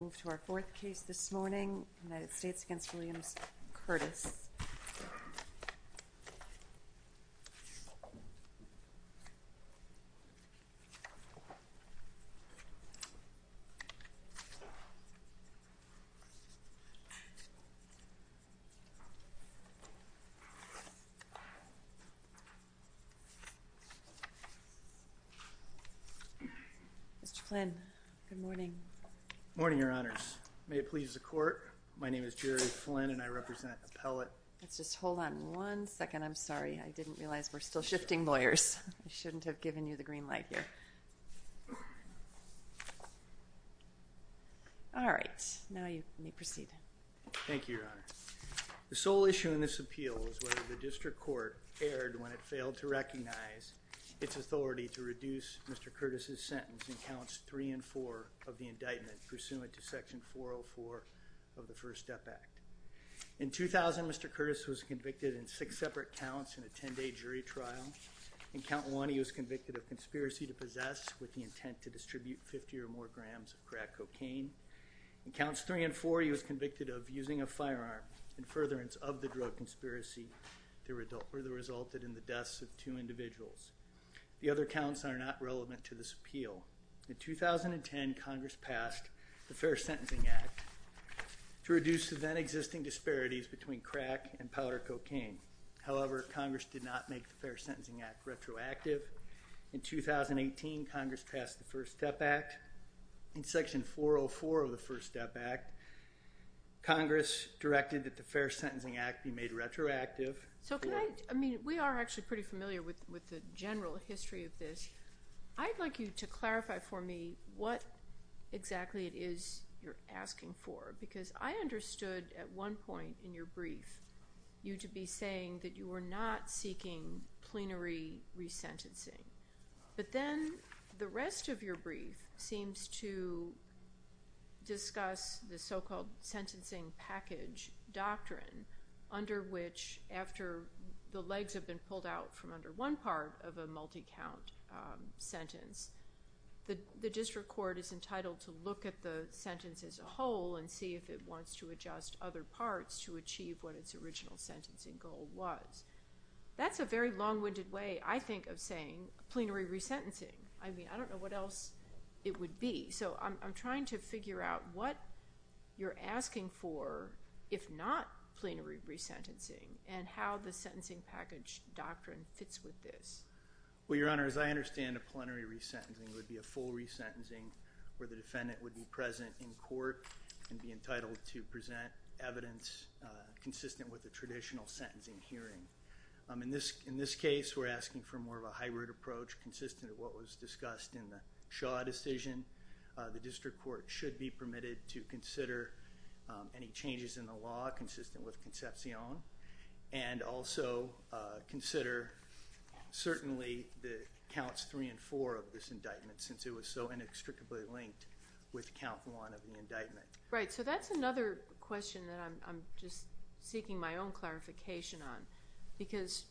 We move to our fourth case this morning, United States v. Williams Curtis. Mr. Flynn, good morning. Good morning, Your Honors. May it please the Court, my name is Jerry Flynn and I represent Appellate. Let's just hold on one second, I'm sorry. I didn't realize we're still shifting lawyers. I shouldn't have given you the green light here. All right, now you may proceed. Thank you, Your Honor. The sole issue in this appeal is whether the District Court erred when it failed to recognize its authority to reduce Mr. Curtis's sentence in counts three and four of the indictment pursuant to section 404 of the First Step Act. In 2000, Mr. Curtis was convicted in six separate counts in a ten-day jury trial. In count one, he was convicted of conspiracy to possess with the intent to distribute 50 or more grams of crack cocaine. In counts three and four, he was convicted of using a firearm in furtherance of the drug conspiracy that resulted in the deaths of two individuals. The other counts are not relevant to this appeal. In 2010, Congress passed the Fair Sentencing Act to reduce the then-existing disparities between crack and powder cocaine. However, Congress did not make the Fair Sentencing Act retroactive. In 2018, Congress passed the First Step Act. In section 404 of the First Step Act, Congress directed that the Fair Sentencing Act be made retroactive. So can I, I mean, we are actually pretty familiar with the general history of this. I'd like you to clarify for me what exactly it is you're asking for, because I understood at one point in your brief you to be saying that you were not seeking plenary resentencing. But then the rest of your brief seems to discuss the so-called sentencing package doctrine, under which after the legs have been pulled out from under one part of a multi-count sentence, the district court is entitled to look at the sentence as a whole and see if it wants to adjust other parts to achieve what its original sentencing goal was. That's a very long-winded way, I think, of saying plenary resentencing. I mean, I don't know what else it would be. So I'm trying to figure out what you're asking for, if not plenary resentencing, and how the sentencing package doctrine fits with this. Well, Your Honor, as I understand it, plenary resentencing would be a full resentencing where the defendant would be present in court and be entitled to present evidence consistent with the traditional sentencing hearing. In this case, we're asking for more of a hybrid approach, consistent with what was discussed in the Shaw decision. The district court should be permitted to consider any changes in the law consistent with Concepcion and also consider certainly the counts three and four of this indictment, since it was so inextricably linked with count one of the indictment. Right. So that's another question that I'm just seeking my own clarification on, because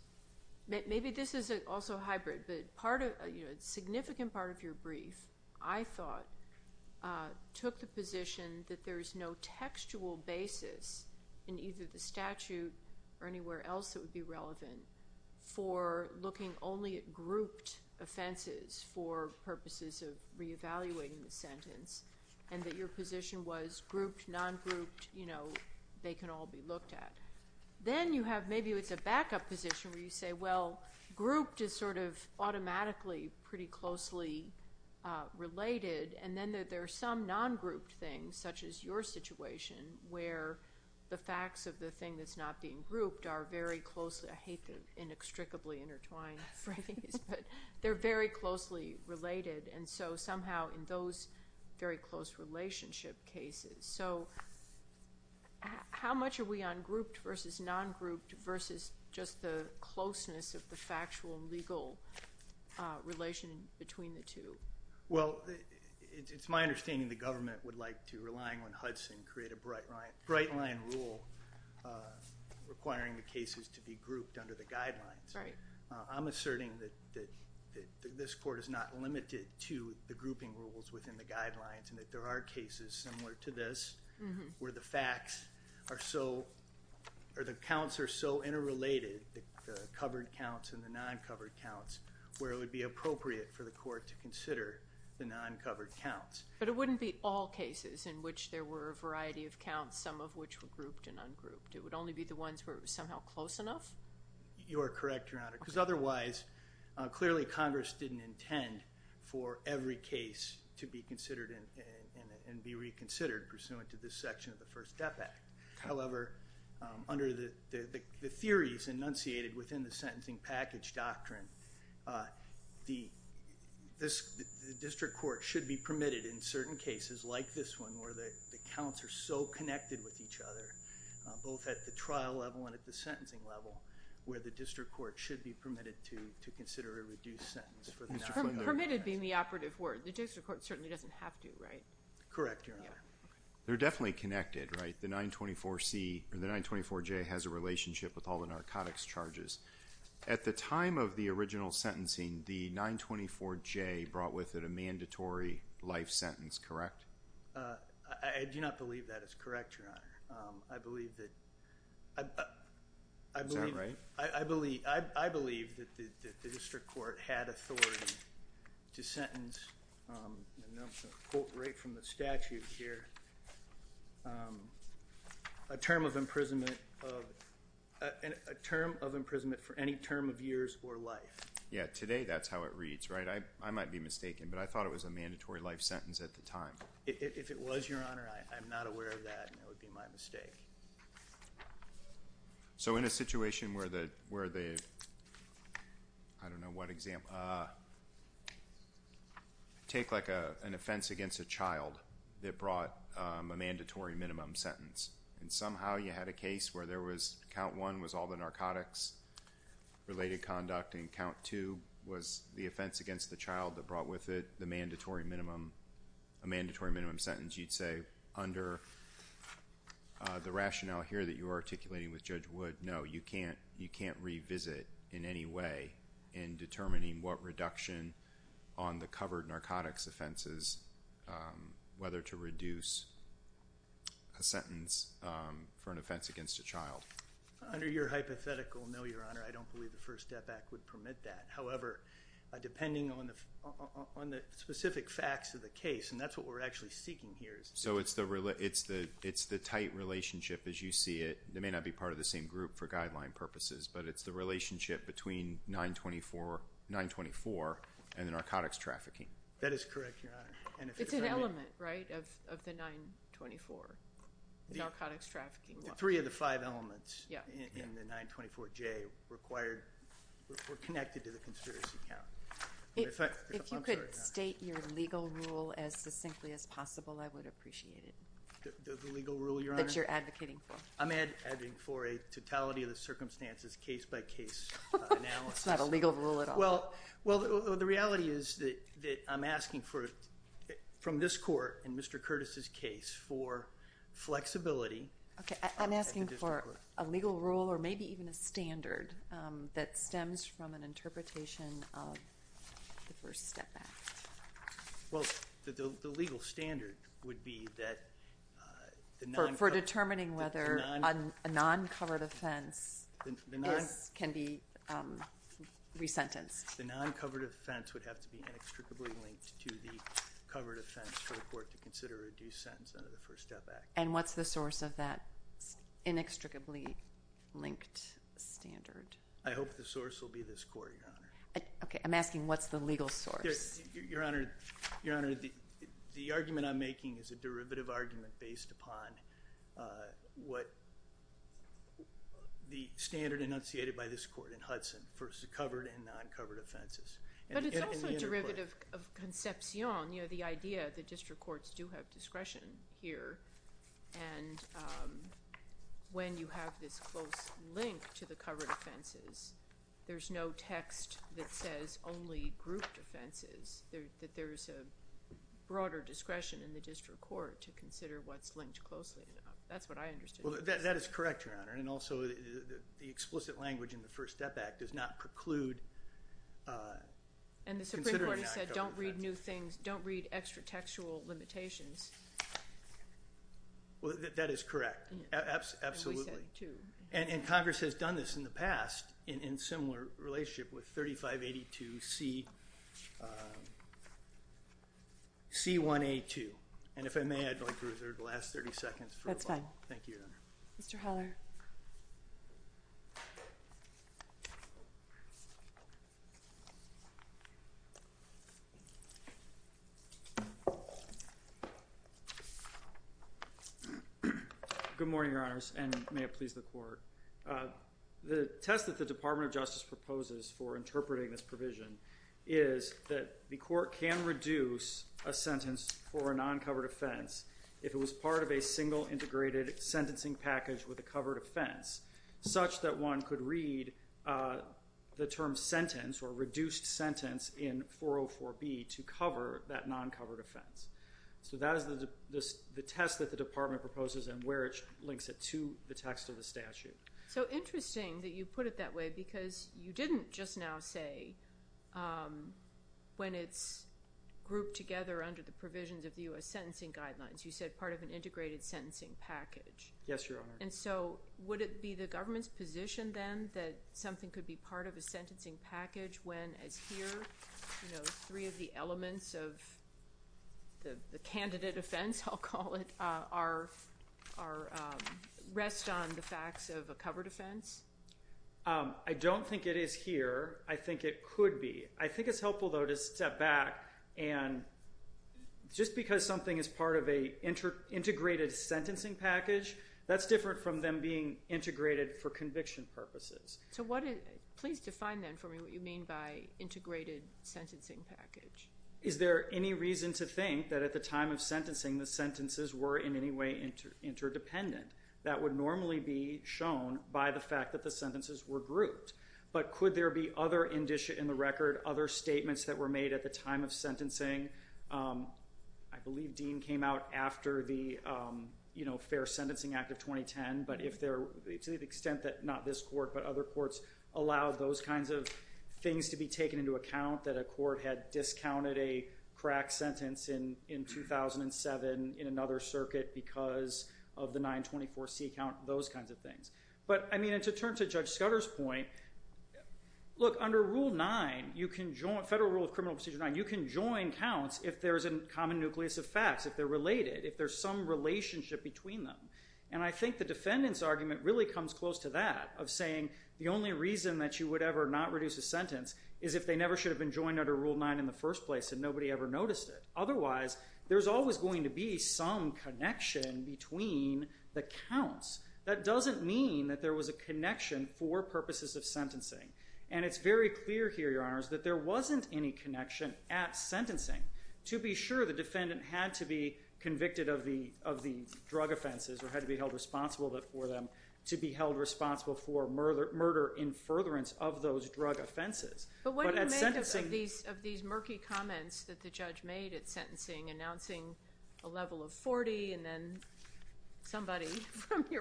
maybe this is also hybrid, but a significant part of your brief, I thought, took the position that there is no textual basis in either the statute or anywhere else that would be relevant for looking only at grouped offenses for purposes of reevaluating the sentence, and that your position was grouped, non-grouped, you know, they can all be looked at. Then you have maybe it's a backup position where you say, well, grouped is sort of automatically pretty closely related, and then that there are some non-grouped things, such as your situation, where the facts of the thing that's not being grouped are very closely, I hate the inextricably intertwined phrase, but they're very closely related, and so somehow in those very close relationship cases. So how much are we on grouped versus non-grouped versus just the closeness of the factual and legal relation between the two? Well, it's my understanding the government would like to rely on Hudson and create a bright line rule requiring the cases to be grouped under the guidelines. I'm asserting that this court is not limited to the grouping rules within the guidelines and that there are cases similar to this where the facts are so or the counts are so interrelated, the covered counts and the non-covered counts, where it would be appropriate for the court to consider the non-covered counts. But it wouldn't be all cases in which there were a variety of counts, some of which were grouped and ungrouped. It would only be the ones where it was somehow close enough? You are correct, Your Honor, because otherwise clearly Congress didn't intend for every case to be considered and be reconsidered pursuant to this section of the First Step Act. However, under the theories enunciated within the sentencing package doctrine, the district court should be permitted in certain cases like this one where the counts are so connected with each other both at the trial level and at the sentencing level where the district court should be permitted to consider a reduced sentence for the non-covered counts. Permitted being the operative word. The district court certainly doesn't have to, right? Correct, Your Honor. They're definitely connected, right? The 924C or the 924J has a relationship with all the narcotics charges. At the time of the original sentencing, the 924J brought with it a mandatory life sentence, correct? I do not believe that is correct, Your Honor. Is that right? I believe that the district court had authority to sentence, and I'll quote right from the statute here, a term of imprisonment for any term of years or life. Yeah, today that's how it reads, right? I might be mistaken, but I thought it was a mandatory life sentence at the time. If it was, Your Honor, I'm not aware of that, and it would be my mistake. So in a situation where the, I don't know what example, take like an offense against a child that brought a mandatory minimum sentence, and somehow you had a case where there was, count one was all the narcotics-related conduct, and count two was the offense against the child that brought with it the mandatory minimum, a mandatory minimum sentence, you'd say under the rationale here that you are articulating with Judge Wood, no, you can't revisit in any way in determining what reduction on the covered narcotics offenses, whether to reduce a sentence for an offense against a child. Under your hypothetical, no, Your Honor, I don't believe the First Step Act would permit that. However, depending on the specific facts of the case, and that's what we're actually seeking here. So it's the tight relationship as you see it. They may not be part of the same group for guideline purposes, but it's the relationship between 924 and the narcotics trafficking. That is correct, Your Honor. It's an element, right, of the 924, the narcotics trafficking law. Three of the five elements in the 924J required, were connected to the conspiracy count. If you could state your legal rule as succinctly as possible, I would appreciate it. The legal rule, Your Honor? That you're advocating for. I'm advocating for a totality of the circumstances, case-by-case analysis. It's not a legal rule at all. Well, the reality is that I'm asking from this court in Mr. Curtis' case for flexibility. I'm asking for a legal rule or maybe even a standard that stems from an interpretation of the First Step Act. Well, the legal standard would be that the 924 for determining whether a non-covered offense can be resentenced. The non-covered offense would have to be inextricably linked to the covered offense for the court to consider a due sentence under the First Step Act. And what's the source of that inextricably linked standard? I hope the source will be this court, Your Honor. Okay, I'm asking what's the legal source. Your Honor, the argument I'm making is a derivative argument based upon what the standard enunciated by this court in Hudson for covered and non-covered offenses. But it's also a derivative of conception, you know, the idea that district courts do have discretion here. And when you have this close link to the covered offenses, there's no text that says only group defenses, that there's a broader discretion in the district court to consider what's linked closely. That's what I understood. Well, that is correct, Your Honor, and also the explicit language in the First Step Act does not preclude considering non-covered offenses. And the Supreme Court has said don't read new things, don't read extra-textual limitations. Well, that is correct, absolutely. And Congress has done this in the past in similar relationship with 3582C1A2. And if I may, I'd like to reserve the last 30 seconds for a moment. That's fine. Thank you, Your Honor. Mr. Heller. Good morning, Your Honors, and may it please the Court. The test that the Department of Justice proposes for interpreting this non-covered offense if it was part of a single integrated sentencing package with a covered offense, such that one could read the term sentence or reduced sentence in 404B to cover that non-covered offense. So that is the test that the Department proposes and where it links it to the text of the statute. So interesting that you put it that way because you didn't just now say when it's grouped together under the provisions of the U.S. sentencing guidelines. You said part of an integrated sentencing package. Yes, Your Honor. And so would it be the government's position then that something could be part of a sentencing package when, as here, three of the elements of the candidate offense, I'll call it, rest on the facts of a covered offense? I don't think it is here. I think it could be. I think it's helpful, though, to step back. And just because something is part of an integrated sentencing package, that's different from them being integrated for conviction purposes. So please define then for me what you mean by integrated sentencing package. Is there any reason to think that at the time of sentencing the sentences were in any way interdependent? That would normally be shown by the fact that the sentences were grouped. But could there be other, in the record, other statements that were made at the time of sentencing? I believe Dean came out after the Fair Sentencing Act of 2010. But to the extent that not this court but other courts allowed those kinds of things to be taken into account, that a court had discounted a crack sentence in 2007 in another circuit because of the 924C count, those kinds of things. But, I mean, to turn to Judge Scudder's point, look, under Rule 9, Federal Rule of Criminal Procedure 9, you can join counts if there's a common nucleus of facts, if they're related, if there's some relationship between them. And I think the defendant's argument really comes close to that of saying the only reason that you would ever not reduce a sentence is if they never should have been joined under Rule 9 in the first place and nobody ever noticed it. Otherwise, there's always going to be some connection between the counts. That doesn't mean that there was a connection for purposes of sentencing. And it's very clear here, Your Honors, that there wasn't any connection at sentencing. To be sure, the defendant had to be convicted of the drug offenses or had to be held responsible for them, to be held responsible for murder in furtherance of those drug offenses. But what do you make of these murky comments that the judge made at your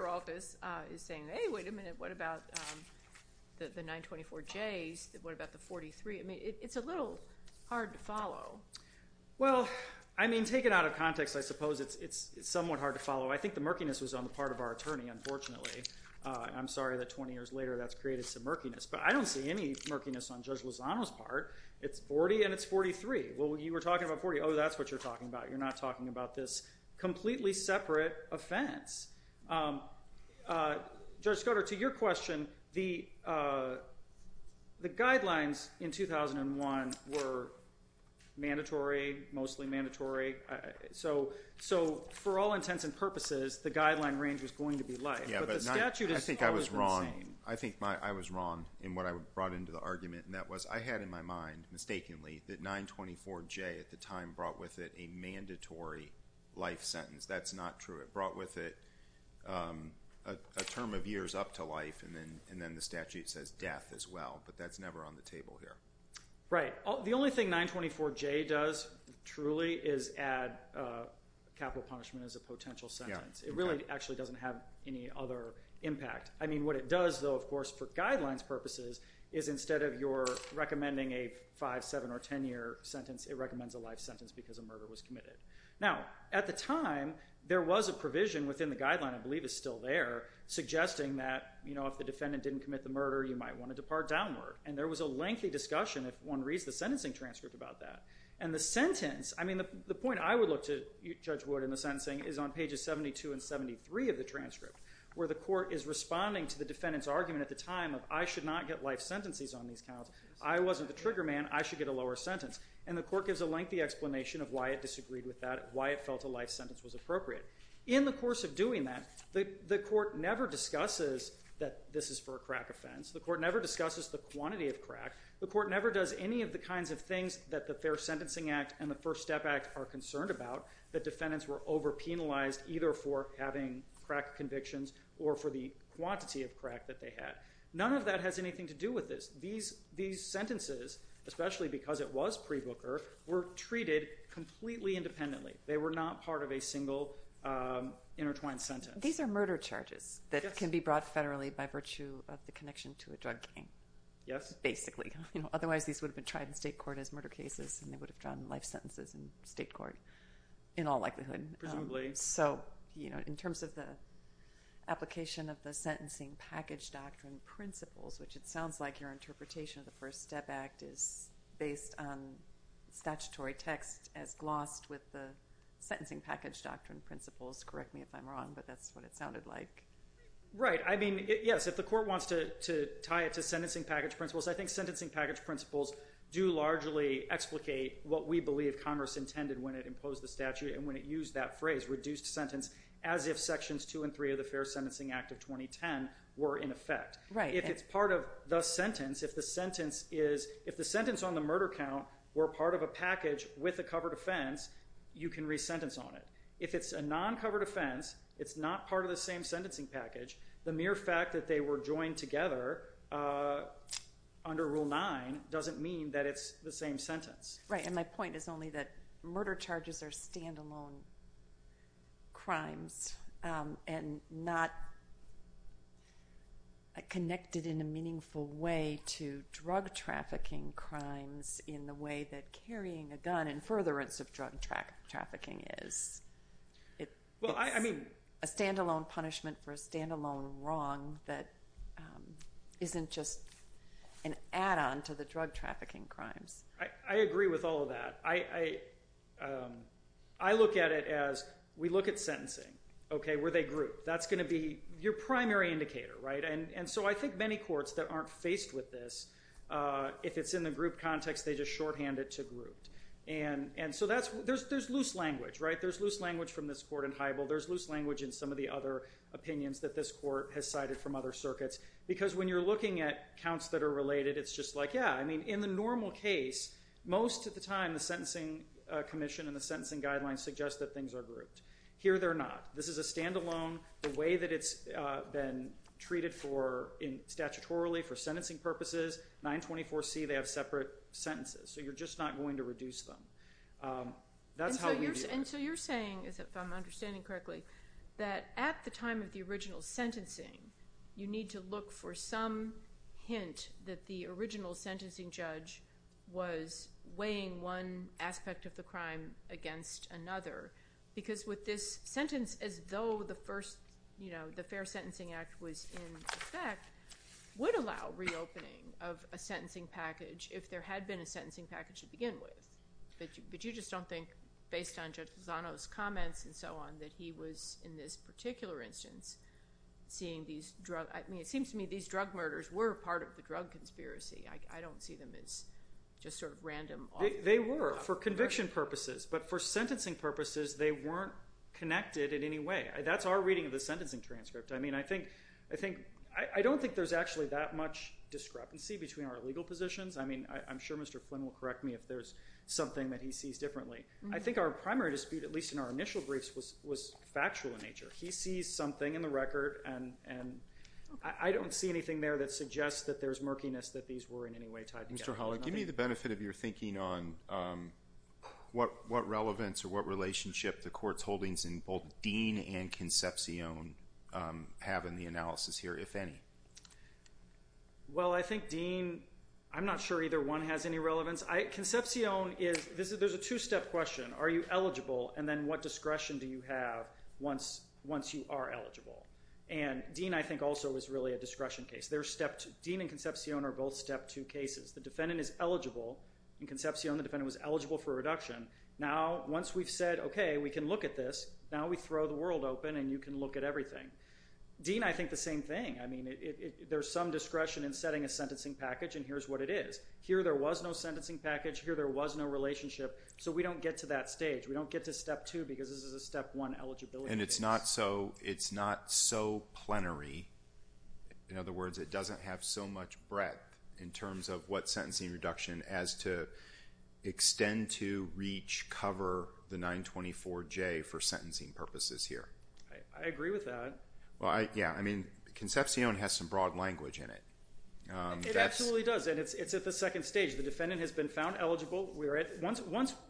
office is saying, hey, wait a minute, what about the 924Js? What about the 43? I mean, it's a little hard to follow. Well, I mean, take it out of context, I suppose. It's somewhat hard to follow. I think the murkiness was on the part of our attorney, unfortunately. I'm sorry that 20 years later that's created some murkiness. But I don't see any murkiness on Judge Lozano's part. It's 40 and it's 43. Well, you were talking about 40. Oh, that's what you're talking about. You're not talking about this completely separate offense. Judge Scoder, to your question, the guidelines in 2001 were mandatory, mostly mandatory. So for all intents and purposes, the guideline range was going to be life. Yeah, but I think I was wrong. I think I was wrong in what I brought into the argument, and that was I had in my mind, mistakenly, that 924J at the time brought with it a mandatory life sentence. That's not true. It brought with it a term of years up to life, and then the statute says death as well. But that's never on the table here. Right. The only thing 924J does truly is add capital punishment as a potential sentence. It really actually doesn't have any other impact. I mean, what it does, though, of course, for guidelines purposes is instead of your recommending a 5-, 7-, or 10-year sentence, it recommends a life sentence because a murder was committed. Now, at the time, there was a provision within the guideline, I believe it's still there, suggesting that if the defendant didn't commit the murder, you might want to depart downward. And there was a lengthy discussion, if one reads the sentencing transcript, about that. And the sentence, I mean, the point I would look to, Judge Wood, in the sentencing is on pages 72 and 73 of the transcript, where the court is responding to the defendant's argument at the time of I should not get life sentences on these counts. I wasn't the trigger man. I should get a lower sentence. And the court gives a lengthy explanation of why it disagreed with that, why it felt a life sentence was appropriate. In the course of doing that, the court never discusses that this is for a crack offense. The court never discusses the quantity of crack. The court never does any of the kinds of things that the Fair Sentencing Act and the First Step Act are concerned about, that defendants were overpenalized either for having crack convictions or for the quantity of crack that they had. None of that has anything to do with this. These sentences, especially because it was pre-Booker, were treated completely independently. They were not part of a single intertwined sentence. These are murder charges that can be brought federally by virtue of the connection to a drug gang. Yes. Basically. Otherwise, these would have been tried in state court as murder cases, and they would have drawn life sentences in state court in all likelihood. Presumably. In terms of the application of the Sentencing Package Doctrine principles, which it sounds like your interpretation of the First Step Act is based on statutory text as glossed with the Sentencing Package Doctrine principles. Correct me if I'm wrong, but that's what it sounded like. Right. Yes, if the court wants to tie it to Sentencing Package principles, I think Sentencing Package principles do largely explicate what we believe Congress intended when it imposed the statute and when it used that phrase, reduced sentence, as if Sections 2 and 3 of the Fair Sentencing Act of 2010 were in effect. Right. If it's part of the sentence, if the sentence on the murder count were part of a package with a covered offense, you can re-sentence on it. If it's a non-covered offense, it's not part of the same Sentencing Package, the mere fact that they were joined together under Rule 9 doesn't mean that it's the same sentence. Right, and my point is only that murder charges are stand-alone crimes and not connected in a meaningful way to drug trafficking crimes in the way that carrying a gun in furtherance of drug trafficking is. It's a stand-alone punishment for a stand-alone wrong that isn't just an add-on to the drug trafficking crimes. I agree with all of that. I look at it as we look at sentencing. Okay, were they grouped? That's going to be your primary indicator, right? And so I think many courts that aren't faced with this, if it's in the group context, they just shorthand it to grouped. And so there's loose language, right? There's loose language from this court in Hybel. There's loose language in some of the other opinions that this court has cited from other circuits. Because when you're looking at counts that are related, it's just like, yeah, in the normal case, most of the time the sentencing commission and the sentencing guidelines suggest that things are grouped. Here they're not. This is a stand-alone. The way that it's been treated statutorily for sentencing purposes, 924C, they have separate sentences. So you're just not going to reduce them. And so you're saying, if I'm understanding correctly, that at the time of the original sentencing, you need to look for some hint that the original sentencing judge was weighing one aspect of the crime against another. Because with this sentence, as though the first, you know, the Fair Sentencing Act was in effect, would allow reopening of a sentencing package if there had been a sentencing package to begin with. But you just don't think, based on Judge Lozano's comments and so on, that he was, in this particular instance, seeing these drug – I mean, it seems to me these drug murders were part of the drug conspiracy. I don't see them as just sort of random. They were for conviction purposes. But for sentencing purposes, they weren't connected in any way. That's our reading of the sentencing transcript. I mean, I think – I don't think there's actually that much discrepancy between our legal positions. I mean, I'm sure Mr. Flynn will correct me if there's something that he sees differently. I think our primary dispute, at least in our initial briefs, was factual in nature. He sees something in the record, and I don't see anything there that suggests that there's murkiness that these were in any way tied together. Mr. Hollick, give me the benefit of your thinking on what relevance or what relationship the court's holdings in both Dean and Concepcion have in the analysis here, if any. Well, I think Dean – I'm not sure either one has any relevance. Concepcion is – there's a two-step question. Are you eligible? And then what discretion do you have once you are eligible? And Dean, I think, also is really a discretion case. Dean and Concepcion are both step two cases. The defendant is eligible. In Concepcion, the defendant was eligible for reduction. Now, once we've said, okay, we can look at this, now we throw the world open and you can look at everything. Dean, I think the same thing. I mean, there's some discretion in setting a sentencing package, and here's what it is. Here there was no sentencing package. Here there was no relationship. So we don't get to that stage. We don't get to step two because this is a step one eligibility case. And it's not so plenary. In other words, it doesn't have so much breadth in terms of what sentencing reduction as to extend to, reach, cover the 924J for sentencing purposes here. I agree with that. Well, yeah. I mean, Concepcion has some broad language in it. It absolutely does, and it's at the second stage. The defendant has been found eligible.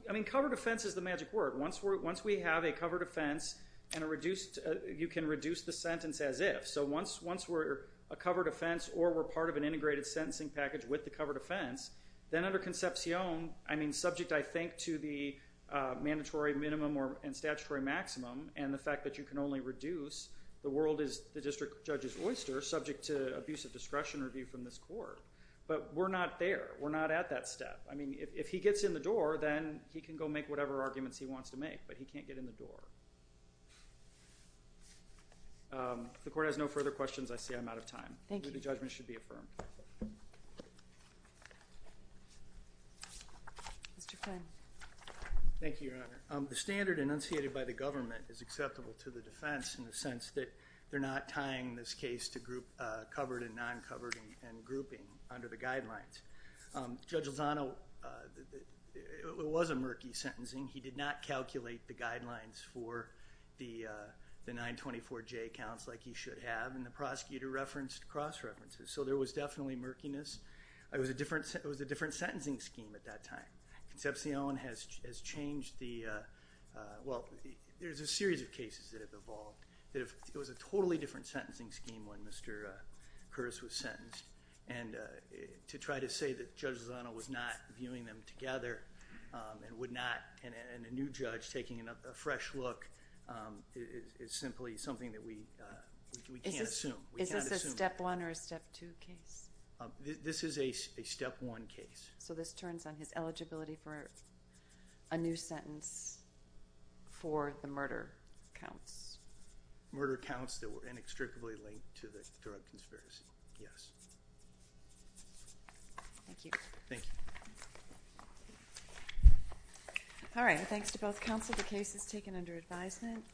I mean, covered offense is the magic word. Once we have a covered offense, you can reduce the sentence as if. So once we're a covered offense or we're part of an integrated sentencing package with the covered offense, then under Concepcion, I mean subject I think to the mandatory minimum and statutory maximum and the fact that you can only reduce, the world is the district judge's court. But we're not there. We're not at that step. I mean, if he gets in the door, then he can go make whatever arguments he wants to make, but he can't get in the door. If the court has no further questions, I see I'm out of time. Thank you. The judgment should be affirmed. Mr. Flynn. Thank you, Your Honor. The standard enunciated by the government is acceptable to the defense in the sense that they're not tying this case to covered and non-covered and grouping under the guidelines. Judge Lozano, it was a murky sentencing. He did not calculate the guidelines for the 924J counts like he should have, and the prosecutor referenced cross-references. So there was definitely murkiness. It was a different sentencing scheme at that time. Concepcion has changed the, well, there's a series of cases that have evolved that it was a totally different sentencing scheme when Mr. Flynn was sentenced, and to try to say that Judge Lozano was not viewing them together and would not, and a new judge taking a fresh look is simply something that we can't assume. Is this a step one or a step two case? This is a step one case. So this turns on his eligibility for a new sentence for the murder counts? Murder counts that were inextricably linked to the drug conspiracy, yes. Thank you. Thank you. All right, thanks to both counsel. The case is taken under advisement.